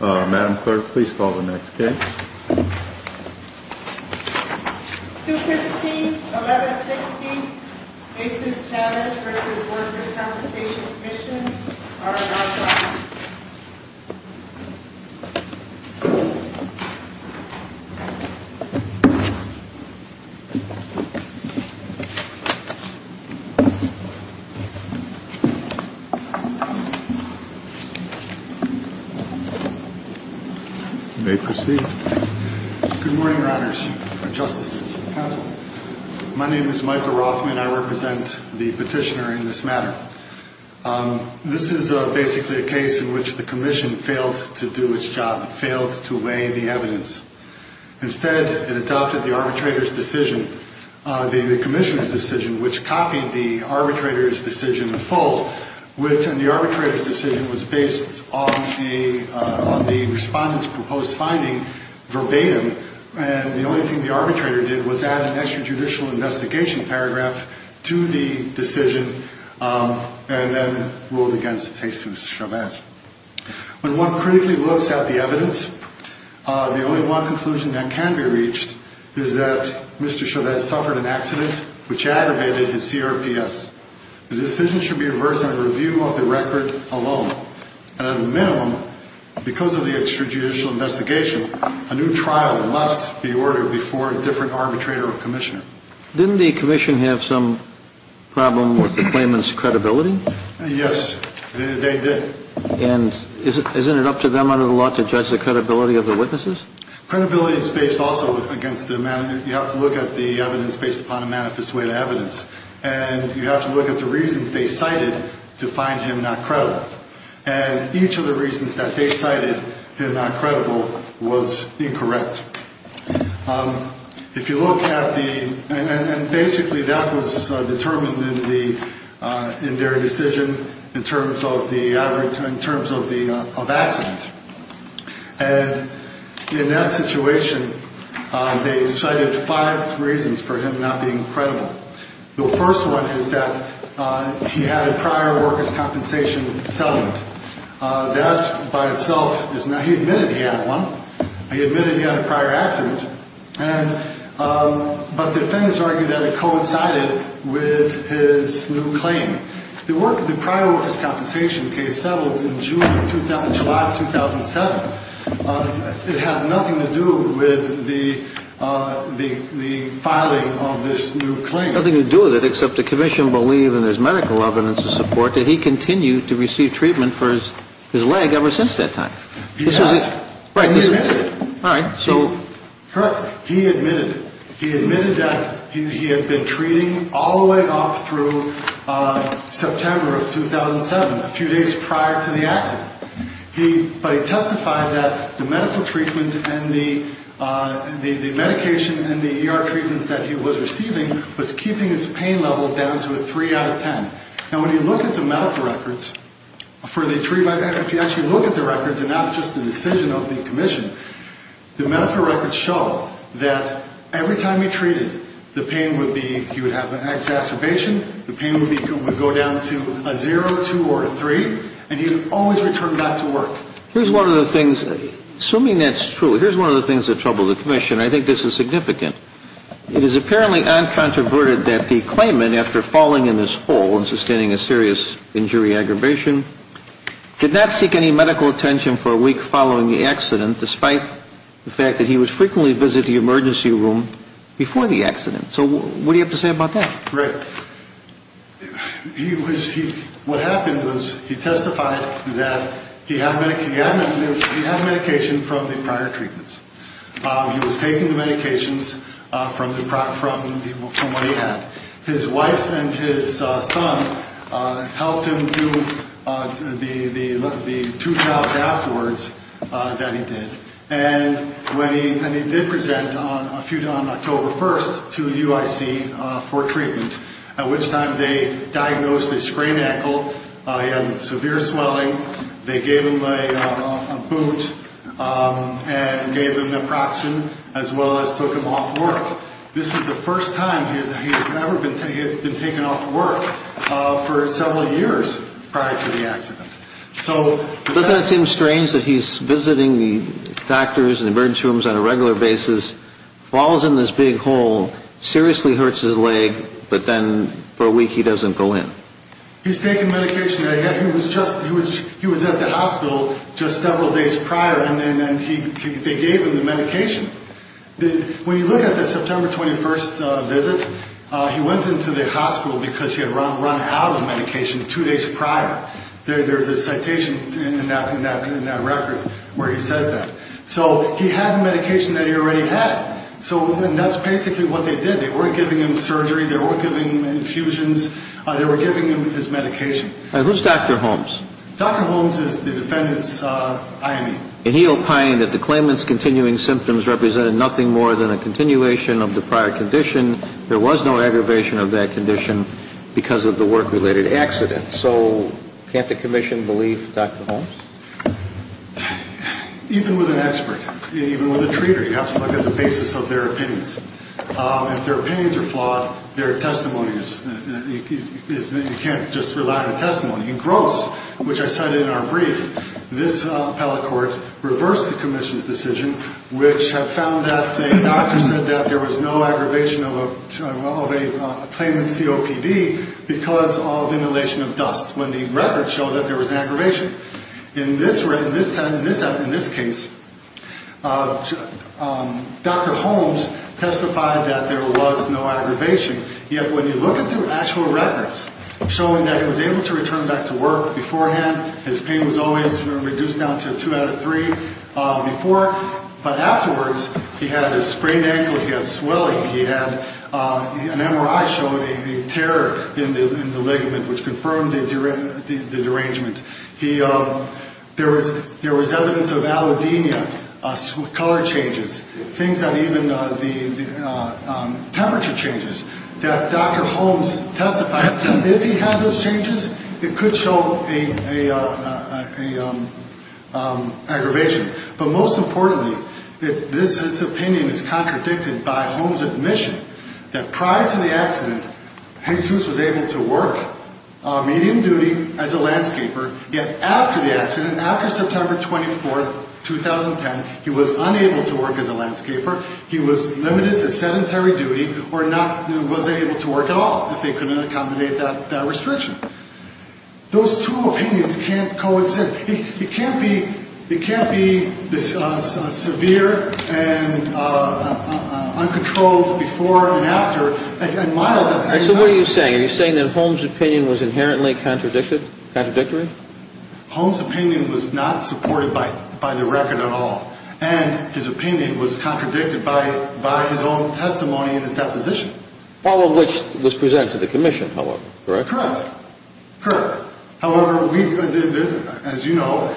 Madam Clerk, please call the next case. 215-1160, Aces-Chavez v. Workers' Compensation Comm'n, R.I.P. You may proceed. Good morning, Riders, Justices, and Counsel. My name is Michael Rothman, and I represent the petitioner in this matter. This is basically a case in which the Commission failed to do its job, failed to weigh the evidence. Instead, it adopted the arbitrator's decision, the Commission's decision, which copied the arbitrator's decision in full, and the arbitrator's decision was based on the respondent's proposed finding verbatim, and the only thing the arbitrator did was add an extrajudicial investigation paragraph to the decision, and then ruled against Aces-Chavez. When one critically looks at the evidence, the only one conclusion that can be reached is that Mr. Chavez suffered an accident which aggravated his CRPS. The decision should be reversed on the review of the record alone, and at a minimum, because of the extrajudicial investigation, a new trial must be ordered before a different arbitrator or Commissioner. Didn't the Commission have some problem with the claimant's credibility? Yes, they did. And isn't it up to them under the law to judge the credibility of the witnesses? Credibility is based also against the amount of evidence. You have to look at the evidence based upon a manifest way of evidence, and you have to look at the reasons they cited to find him not credible, and each of the reasons that they cited him not credible was incorrect. If you look at the, and basically that was determined in their decision in terms of accident, and in that situation they cited five reasons for him not being credible. The first one is that he had a prior workers' compensation settlement. That by itself is not, he admitted he had one. He admitted he had a prior accident, but the defendants argue that it coincided with his new claim. The prior workers' compensation case settled in July 2007. It had nothing to do with the filing of this new claim. Nothing to do with it except the Commission believed in his medical evidence to support that he continued to receive treatment for his leg ever since that time. He has. Right. And he admitted it. All right. Correct. He admitted it. He admitted that he had been treating all the way up through September of 2007, a few days prior to the accident. But he testified that the medical treatment and the medication and the ER treatments that he was receiving was keeping his pain level down to a 3 out of 10. Now, when you look at the medical records for the treatment, if you actually look at the records and not just the decision of the Commission, the medical records show that every time he treated, the pain would be, he would have an exacerbation, the pain would go down to a 0, 2, or a 3, and he would always return back to work. Here's one of the things, assuming that's true, here's one of the things that troubled the Commission, and I think this is significant. It is apparently uncontroverted that the claimant, after falling in his hole and sustaining a serious injury aggravation, did not seek any medical attention for a week following the accident, despite the fact that he would frequently visit the emergency room before the accident. So what do you have to say about that? Rick, what happened was he testified that he had medication from the prior treatments. He was taking the medications from what he had. His wife and his son helped him do the two-child afterwards that he did, and he did present on October 1st to UIC for treatment, at which time they diagnosed a sprained ankle, he had severe swelling, they gave him a boot and gave him naproxen, as well as took him off work. This is the first time he has ever been taken off work for several years prior to the accident. So doesn't it seem strange that he's visiting doctors and emergency rooms on a regular basis, falls in this big hole, seriously hurts his leg, but then for a week he doesn't go in? He's taken medication. He was at the hospital just several days prior, and then they gave him the medication. When you look at the September 21st visit, he went into the hospital because he had run out of medication two days prior. There's a citation in that record where he says that. So he had medication that he already had, and that's basically what they did. They weren't giving him surgery. They weren't giving him infusions. They were giving him his medication. Who's Dr. Holmes? Dr. Holmes is the defendant's IME. And he opined that the claimant's continuing symptoms represented nothing more than a continuation of the prior condition. There was no aggravation of that condition because of the work-related accident. So can't the commission believe Dr. Holmes? Even with an expert, even with a treater, you have to look at the basis of their opinions. If their opinions are flawed, their testimony is ñ you can't just rely on testimony. In Gross, which I cited in our brief, this appellate court reversed the commission's decision, which found that a doctor said that there was no aggravation of a claimant's COPD because of inhalation of dust, when the record showed that there was an aggravation. In this case, Dr. Holmes testified that there was no aggravation. Yet when you look at the actual records showing that he was able to return back to work beforehand, his pain was always reduced down to a two out of three before. But afterwards, he had a sprained ankle. He had swelling. He had an MRI showing a tear in the ligament, which confirmed the derangement. There was evidence of allodemia, color changes, things that even the temperature changes, that Dr. Holmes testified that if he had those changes, it could show an aggravation. But most importantly, this opinion is contradicted by Holmes' admission that prior to the accident, Jesus was able to work medium duty as a landscaper. Yet after the accident, after September 24, 2010, he was unable to work as a landscaper. He was limited to sedentary duty or was unable to work at all if they couldn't accommodate that restriction. Those two opinions can't coexist. It can't be severe and uncontrolled before and after. So what are you saying? Are you saying that Holmes' opinion was inherently contradictory? Holmes' opinion was not supported by the record at all, and his opinion was contradicted by his own testimony and his deposition. All of which was presented to the commission, correct? Correct. However, as you know,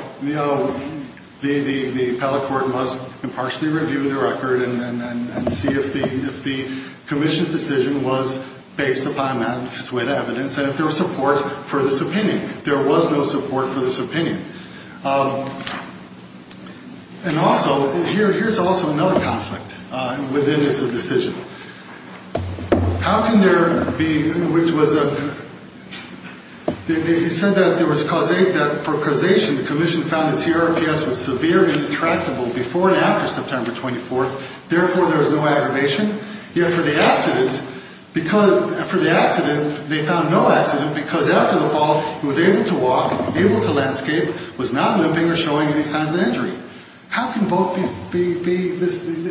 the appellate court must impartially review the record and see if the commission's decision was based upon that evidence and if there was support for this opinion. There was no support for this opinion. And also, here's also another conflict within this decision. How can there be, which was, you said that for causation, the commission found that CRPS was severe and intractable before and after September 24, therefore there was no aggravation. Yet for the accident, they found no accident because after the fall, he was able to walk, able to landscape, was not limping or showing any signs of injury. How can both be,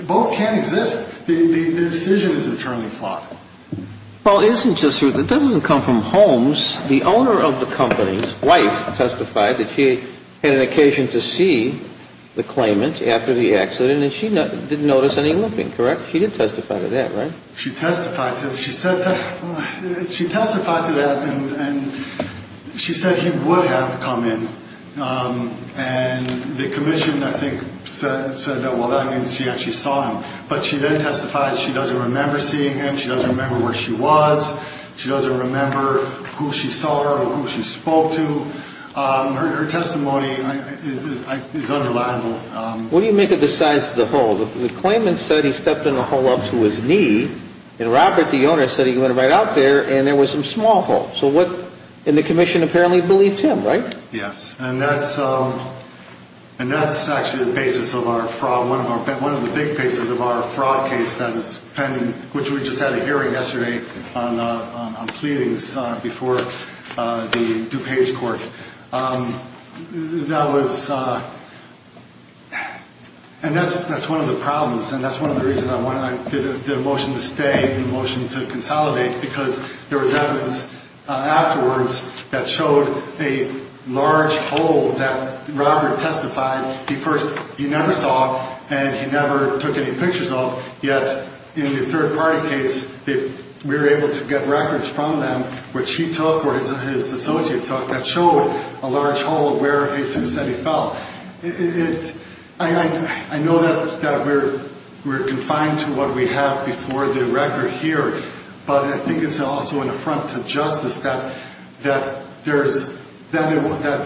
both can't exist. The decision is internally flawed. Well, it isn't just, it doesn't come from Holmes. The owner of the company's wife testified that she had an occasion to see the claimant after the accident and she didn't notice any limping, correct? She did testify to that, right? She testified to that and she said he would have come in. And the commission, I think, said that, well, that means she actually saw him. But she then testified she doesn't remember seeing him. She doesn't remember where she was. She doesn't remember who she saw or who she spoke to. Her testimony is underlined. What do you make of the size of the hole? The claimant said he stepped in a hole up to his knee and Robert, the owner, said he went right out there and there was some small hole. So what, and the commission apparently believed him, right? Yes. And that's actually the basis of our fraud. One of the big pieces of our fraud case that is pending, which we just had a hearing yesterday on pleadings before the DuPage court. That was, and that's one of the problems. And that's one of the reasons I did a motion to stay and a motion to consolidate because there was evidence afterwards that showed a large hole that Robert testified he first, he never saw and he never took any pictures of, yet in the third-party case, we were able to get records from them, which he took or his associate took, that showed a large hole of where he said he fell. I know that we're confined to what we have before the record here, but I think it's also an affront to justice that the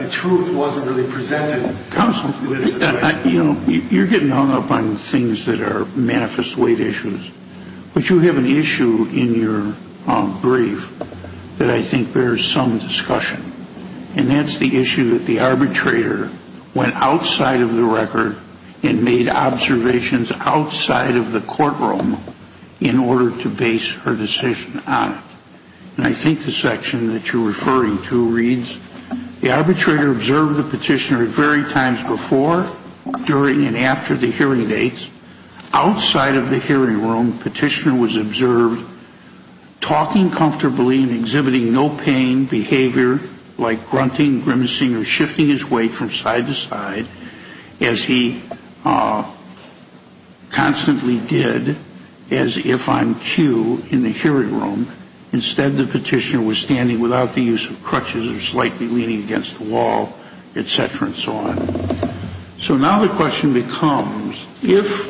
truth wasn't really presented. Counsel, you know, you're getting hung up on things that are manifest weight issues, but you have an issue in your brief that I think bears some discussion, and that's the issue that the arbitrator went outside of the record and made observations outside of the courtroom in order to base her decision on it. And I think the section that you're referring to reads, the arbitrator observed the petitioner at varied times before, during, and after the hearing dates. Outside of the hearing room, petitioner was observed talking comfortably and exhibiting no pain behavior like grunting, grimacing, or shifting his weight from side to side, as he constantly did as if I'm cue in the hearing room. Instead, the petitioner was standing without the use of crutches or slightly leaning against the wall, et cetera, and so on. So now the question becomes, if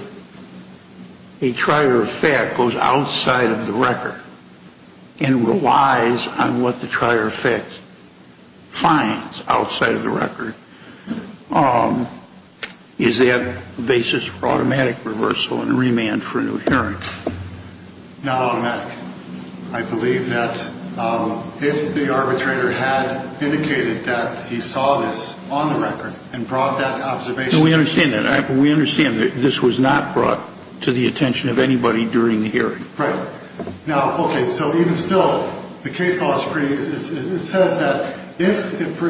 a trier of fact goes outside of the record and relies on what the trier of fact finds outside of the record, is that the basis for automatic reversal and remand for a new hearing? Not automatic. I believe that if the arbitrator had indicated that he saw this on the record and brought that observation to the hearing. No, we understand that. We understand that this was not brought to the attention of anybody during the hearing. Right. Now, okay, so even still, the case law screen, it says that if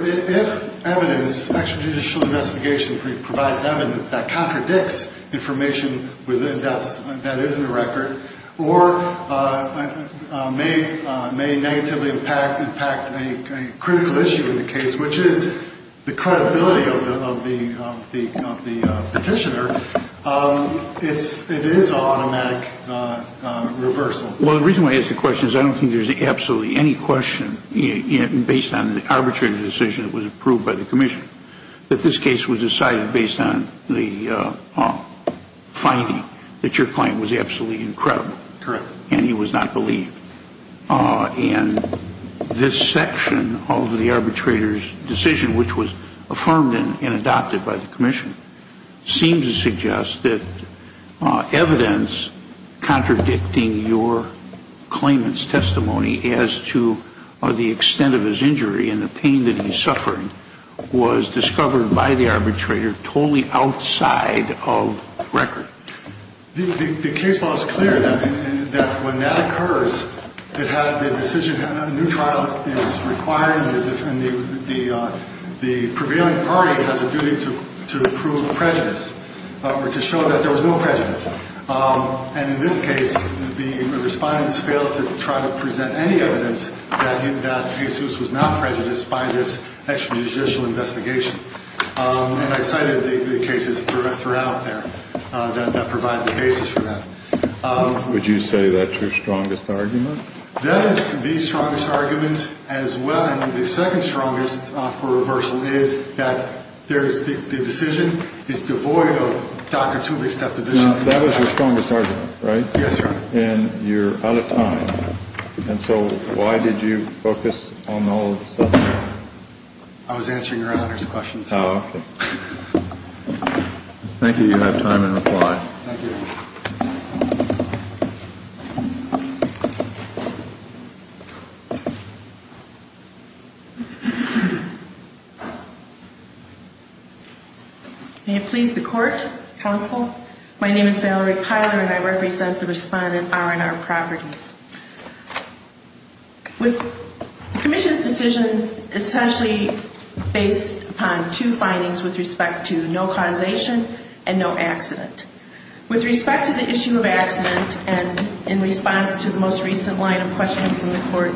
evidence, extrajudicial investigation provides evidence that contradicts information that is in the record or may negatively impact a critical issue in the case, which is the credibility of the petitioner, it is an automatic reversal. Well, the reason why I ask the question is I don't think there's absolutely any question based on the arbitrator's decision that was approved by the commission that this case was decided based on the finding that your client was absolutely incredible. Correct. And he was not believed. And this section of the arbitrator's decision, which was affirmed and adopted by the commission, seems to suggest that evidence contradicting your claimant's testimony as to the extent of his injury and the pain that he's suffering was discovered by the arbitrator totally outside of record. The case law is clear that when that occurs, it has a decision, a new trial is required, and the prevailing party has a duty to prove prejudice or to show that there was no prejudice. And in this case, the respondents failed to try to present any evidence that Jesus was not prejudiced by this extrajudicial investigation. And I cited the cases throughout there that provide the basis for that. Would you say that's your strongest argument? That is the strongest argument as well. I mean, the second strongest for reversal is that there is the decision is devoid of Dr. Tuvik's deposition. Now, that was your strongest argument, right? Yes, Your Honor. And you're out of time. And so why did you focus on the whole subject? I was answering Your Honor's questions. Oh, okay. Thank you. You have time in reply. Thank you. May it please the court, counsel. My name is Valerie Piler, and I represent the respondent R&R Properties. The commission's decision is essentially based upon two findings with respect to no causation and no accident. With respect to the issue of accident and in response to the most recent line of questioning from the court,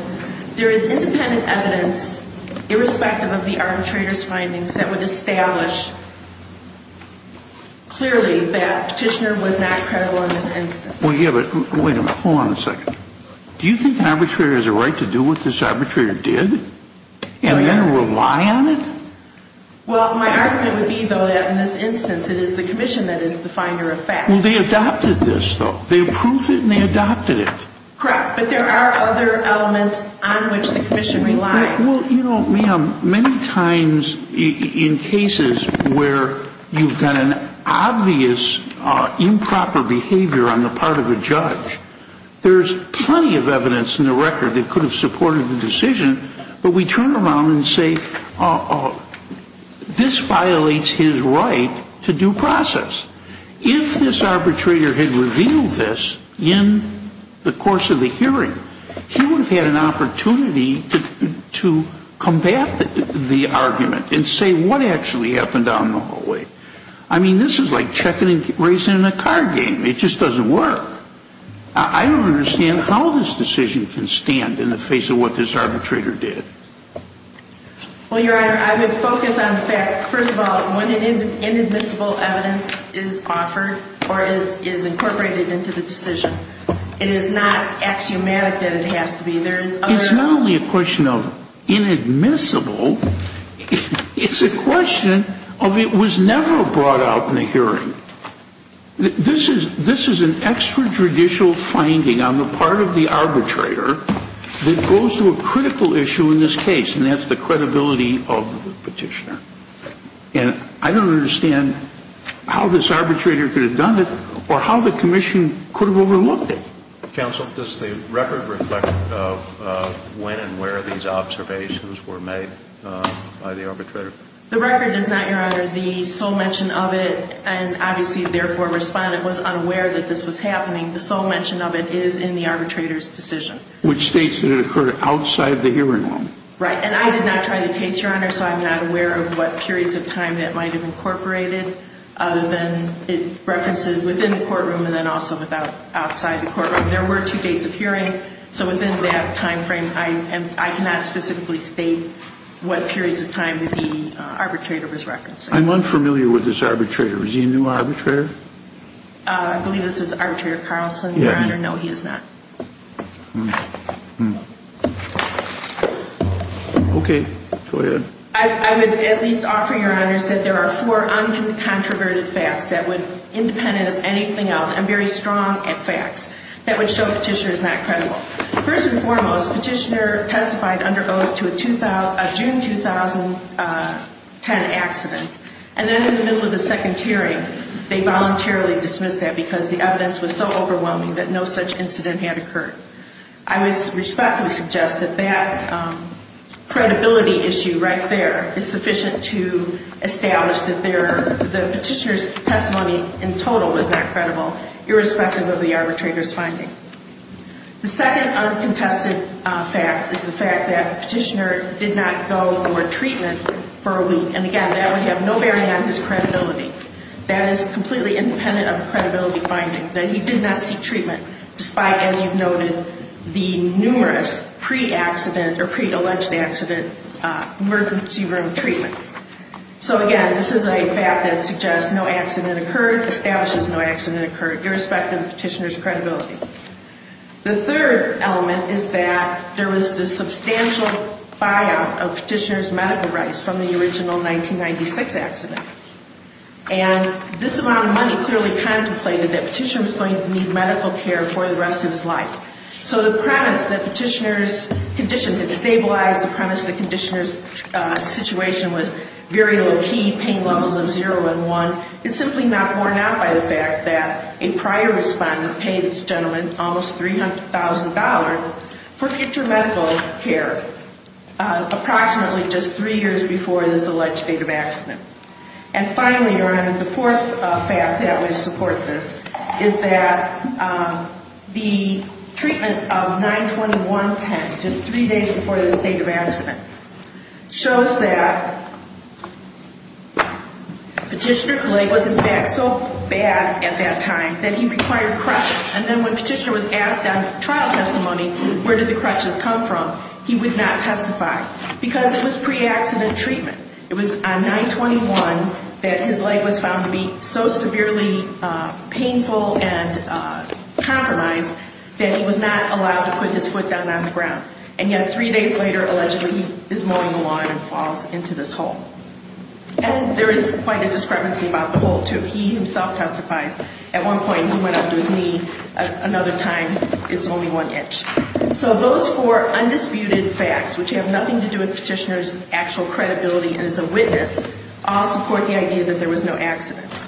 there is independent evidence, irrespective of the arbitrator's findings, that would establish clearly that Petitioner was not credible in this instance. Well, yeah, but wait a minute. Hold on a second. Do you think an arbitrator has a right to do what this arbitrator did? Yeah. And are you going to rely on it? Well, my argument would be, though, that in this instance it is the commission that is the finder of facts. Well, they adopted this, though. They approved it and they adopted it. Correct. But there are other elements on which the commission relies. Well, you know, ma'am, many times in cases where you've got an obvious improper behavior on the part of a judge, there's plenty of evidence in the record that could have supported the decision, but we turn around and say, oh, this violates his right to due process. If this arbitrator had revealed this in the course of the hearing, he would have had an opportunity to combat the argument and say what actually happened down the hallway. I mean, this is like checking and raising a card game. It just doesn't work. I don't understand how this decision can stand in the face of what this arbitrator did. Well, Your Honor, I would focus on the fact, first of all, when inadmissible evidence is offered or is incorporated into the decision, it is not axiomatic that it has to be. It's not only a question of inadmissible. It's a question of it was never brought out in the hearing. This is an extrajudicial finding on the part of the arbitrator that goes to a critical issue in this case, and that's the credibility of the petitioner. And I don't understand how this arbitrator could have done it or how the commission could have overlooked it. Counsel, does the record reflect when and where these observations were made by the arbitrator? The record does not, Your Honor. The sole mention of it, and obviously, therefore, a respondent was unaware that this was happening. The sole mention of it is in the arbitrator's decision. Which states that it occurred outside the hearing room. Right. And I did not try the case, Your Honor, so I'm not aware of what periods of time that might have incorporated, other than it references within the courtroom and then also outside the courtroom. There were two dates of hearing, so within that time frame, I cannot specifically state what periods of time that the arbitrator was referencing. I'm unfamiliar with this arbitrator. Is he a new arbitrator? I believe this is Arbitrator Carlson, Your Honor. No, he is not. Okay. Go ahead. I would at least offer, Your Honors, that there are four uncontroverted facts that would, independent of anything else and very strong at facts, that would show the petitioner is not credible. First and foremost, petitioner testified under oath to a June 2010 accident. And then in the middle of the second hearing, they voluntarily dismissed that because the evidence was so overwhelming that no such incident had occurred. I would respectfully suggest that that credibility issue right there is sufficient to establish that the petitioner's testimony in total was not credible, irrespective of the arbitrator's finding. The second uncontested fact is the fact that the petitioner did not go for treatment for a week. And, again, that would have no bearing on his credibility. That is completely independent of the credibility finding, that he did not seek treatment despite, as you've noted, the numerous pre-accident or pre-alleged accident emergency room treatments. So, again, this is a fact that suggests no accident occurred, or establishes no accident occurred, irrespective of the petitioner's credibility. The third element is that there was the substantial buyout of petitioner's medical rights from the original 1996 accident. And this amount of money clearly contemplated that petitioner was going to need medical care for the rest of his life. So the premise that petitioner's condition had stabilized, the premise that the petitioner's situation was very low key, pain levels of 0 and 1, is simply not worn out by the fact that a prior respondent paid this gentleman almost $300,000 for future medical care approximately just three years before this alleged date of accident. And, finally, the fourth fact that would support this is that the treatment of 9-21-10, just three days before this date of accident, shows that petitioner's leg was, in fact, so bad at that time that he required crutches. And then when petitioner was asked on trial testimony where did the crutches come from, he would not testify because it was pre-accident treatment. It was on 9-21 that his leg was found to be so severely painful and compromised that he was not allowed to put his foot down on the ground. And yet three days later, allegedly, he is mowing the lawn and falls into this hole. And there is quite a discrepancy about the hole, too. He himself testifies. At one point, he went under his knee. Another time, it's only one inch. So those four undisputed facts, which have nothing to do with petitioner's actual credibility as a witness, all support the idea that there was no accident.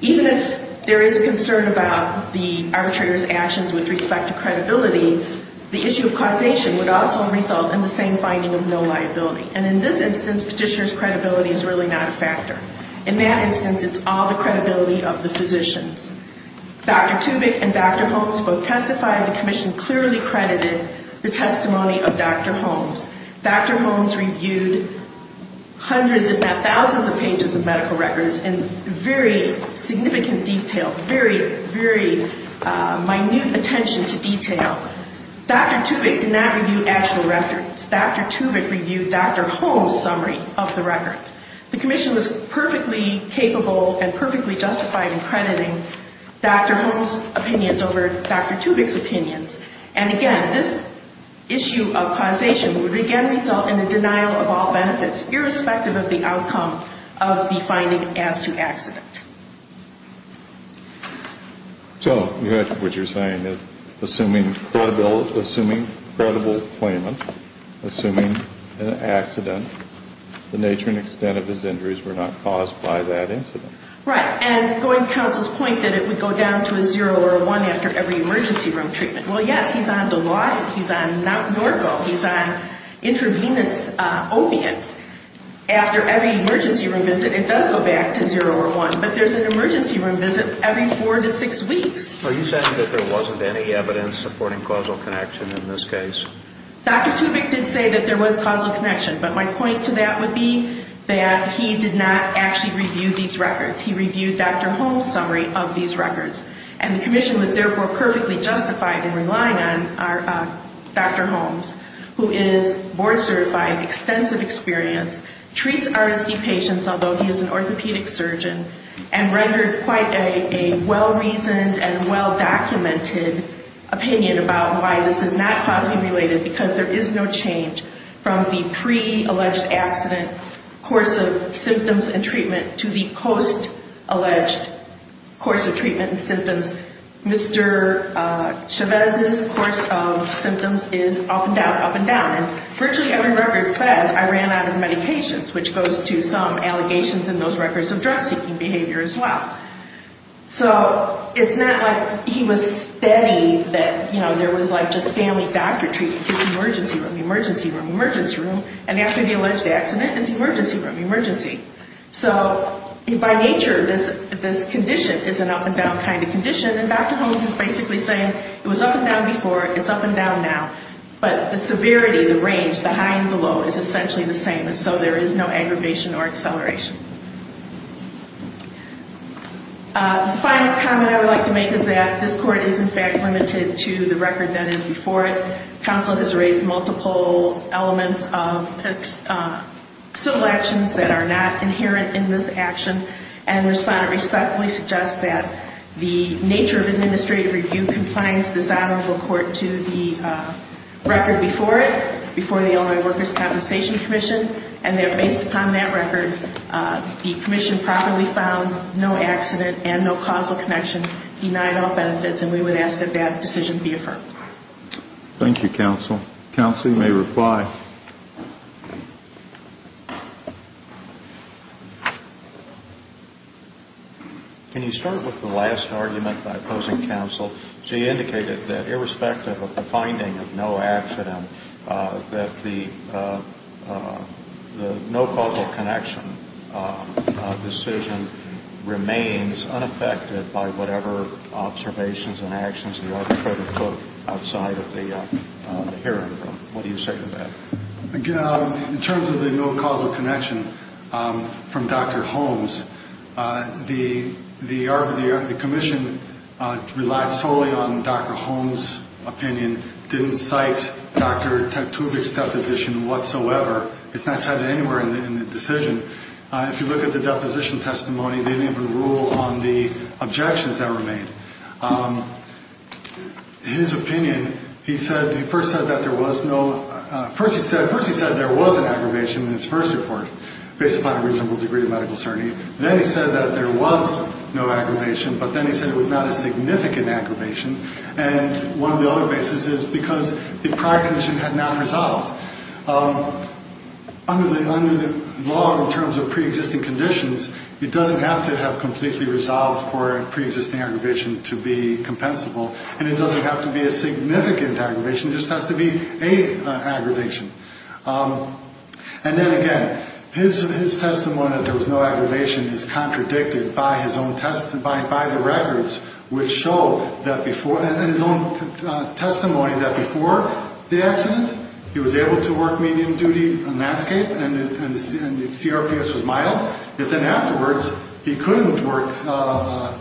Even if there is concern about the arbitrator's actions with respect to credibility, the issue of causation would also result in the same finding of no liability. And in this instance, petitioner's credibility is really not a factor. In that instance, it's all the credibility of the physicians. Dr. Tubick and Dr. Holmes both testified. The commission clearly credited the testimony of Dr. Holmes. Dr. Holmes reviewed hundreds if not thousands of pages of medical records in very significant detail, very, very minute attention to detail. Dr. Tubick did not review actual records. Dr. Tubick reviewed Dr. Holmes' summary of the records. The commission was perfectly capable and perfectly justified in crediting Dr. Holmes' opinions over Dr. Tubick's opinions. And again, this issue of causation would again result in the denial of all benefits, irrespective of the outcome of the finding as to accident. So what you're saying is assuming credible claimant, assuming an accident, the nature and extent of his injuries were not caused by that incident. Right. And going to counsel's point that it would go down to a zero or a one after every emergency room treatment. Well, yes, he's on the law. He's on Mt. Norco. He's on intravenous opiates. After every emergency room visit, it does go back to zero or one. But there's an emergency room visit every four to six weeks. Are you saying that there wasn't any evidence supporting causal connection in this case? Dr. Tubick did say that there was causal connection. But my point to that would be that he did not actually review these records. He reviewed Dr. Holmes' summary of these records. And the commission was therefore perfectly justified in relying on Dr. Holmes, who is board-certified, extensive experience, treats RSD patients, although he is an orthopedic surgeon, and rendered quite a well-reasoned and well-documented opinion about why this is not causally related because there is no change from the pre-alleged accident course of treatment and symptoms. Mr. Chavez's course of symptoms is up and down, up and down. And virtually every record says, I ran out of medications, which goes to some allegations in those records of drug-seeking behavior as well. So it's not like he was steady that, you know, there was like just family doctor treatment. It's emergency room, emergency room, emergency room. And after the alleged accident, it's emergency room, emergency. So by nature, this condition is an up and down kind of condition, and Dr. Holmes is basically saying it was up and down before, it's up and down now. But the severity, the range, the high and the low is essentially the same, and so there is no aggravation or acceleration. The final comment I would like to make is that this court is, in fact, limited to the record that is before it. Counsel has raised multiple elements of civil actions that are not inherent in this action, and Respondent respectfully suggests that the nature of administrative review confines this honorable court to the record before it, before the Illinois Workers' Compensation Commission, and that based upon that record, the commission probably found no accident and no causal connection, denied all benefits, and we would ask that that decision be affirmed. Thank you, counsel. Counsel, you may reply. Can you start with the last argument by opposing counsel? She indicated that irrespective of the finding of no accident, that the no causal connection decision remains unaffected by whatever observations and actions the arbitrator took outside of the hearing room. What do you say to that? In terms of the no causal connection from Dr. Holmes, the commission relied solely on Dr. Holmes' opinion, didn't cite Dr. Tektubik's deposition whatsoever. It's not cited anywhere in the decision. If you look at the deposition testimony, he didn't even rule on the objections that were made. His opinion, he said, he first said that there was no, first he said there was an aggravation in his first report based upon a reasonable degree of medical certainty. Then he said that there was no aggravation, but then he said it was not a significant aggravation, and one of the other bases is because the prior condition had not resolved. Under the law in terms of preexisting conditions, it doesn't have to have completely resolved for a preexisting aggravation to be compensable, and it doesn't have to be a significant aggravation. It just has to be a aggravation. And then again, his testimony that there was no aggravation is contradicted by his own test, by the records which show that before, and his own testimony that before the accident, he was able to work medium duty on landscape and the CRPS was mild. But then afterwards, he couldn't work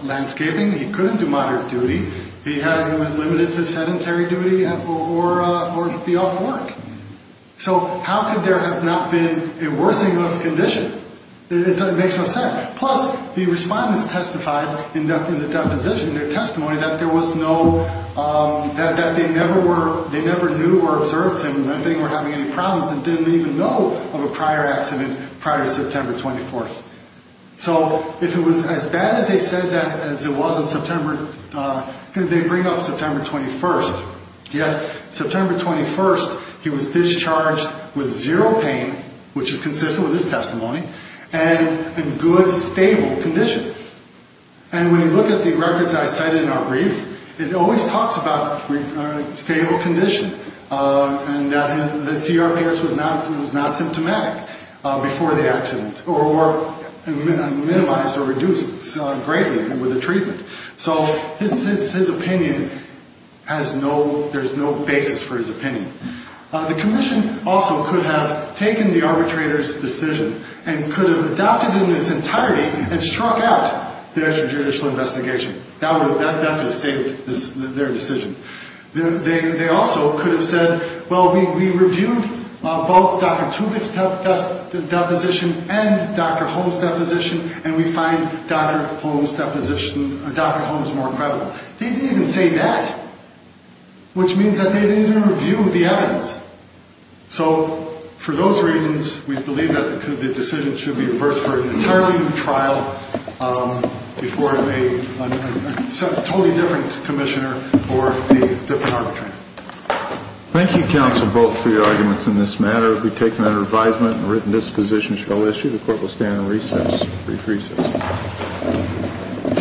landscaping. He couldn't do moderate duty. He was limited to sedentary duty or be off work. So how could there have not been a worsening of his condition? It doesn't make much sense. Plus, the respondents testified in the deposition, their testimony, that there was no, that they never knew or observed him, that they were having any problems and didn't even know of a prior accident prior to September 24th. So if it was as bad as they said that as it was in September, they bring up September 21st. Yet September 21st, he was discharged with zero pain, which is consistent with his testimony, and in good, stable condition. And when you look at the records I cited in our brief, it always talks about stable condition and that the CRPS was not symptomatic before the accident or minimized or reduced greatly with the treatment. So his opinion has no, there's no basis for his opinion. The commission also could have taken the arbitrator's decision and could have adopted it in its entirety and struck out the extrajudicial investigation. That would have saved their decision. They also could have said, well, we reviewed both Dr. Tubick's deposition and Dr. Holmes' deposition, and we find Dr. Holmes' deposition, Dr. Holmes more credible. They didn't even say that, which means that they didn't even review the evidence. So for those reasons, we believe that the decision should be reversed for an entirely new trial before a totally different commissioner or a different arbitrator. Thank you, counsel, both for your arguments in this matter. We take them under advisement and written dispositions shall issue. The court will stand on recess. Brief recess.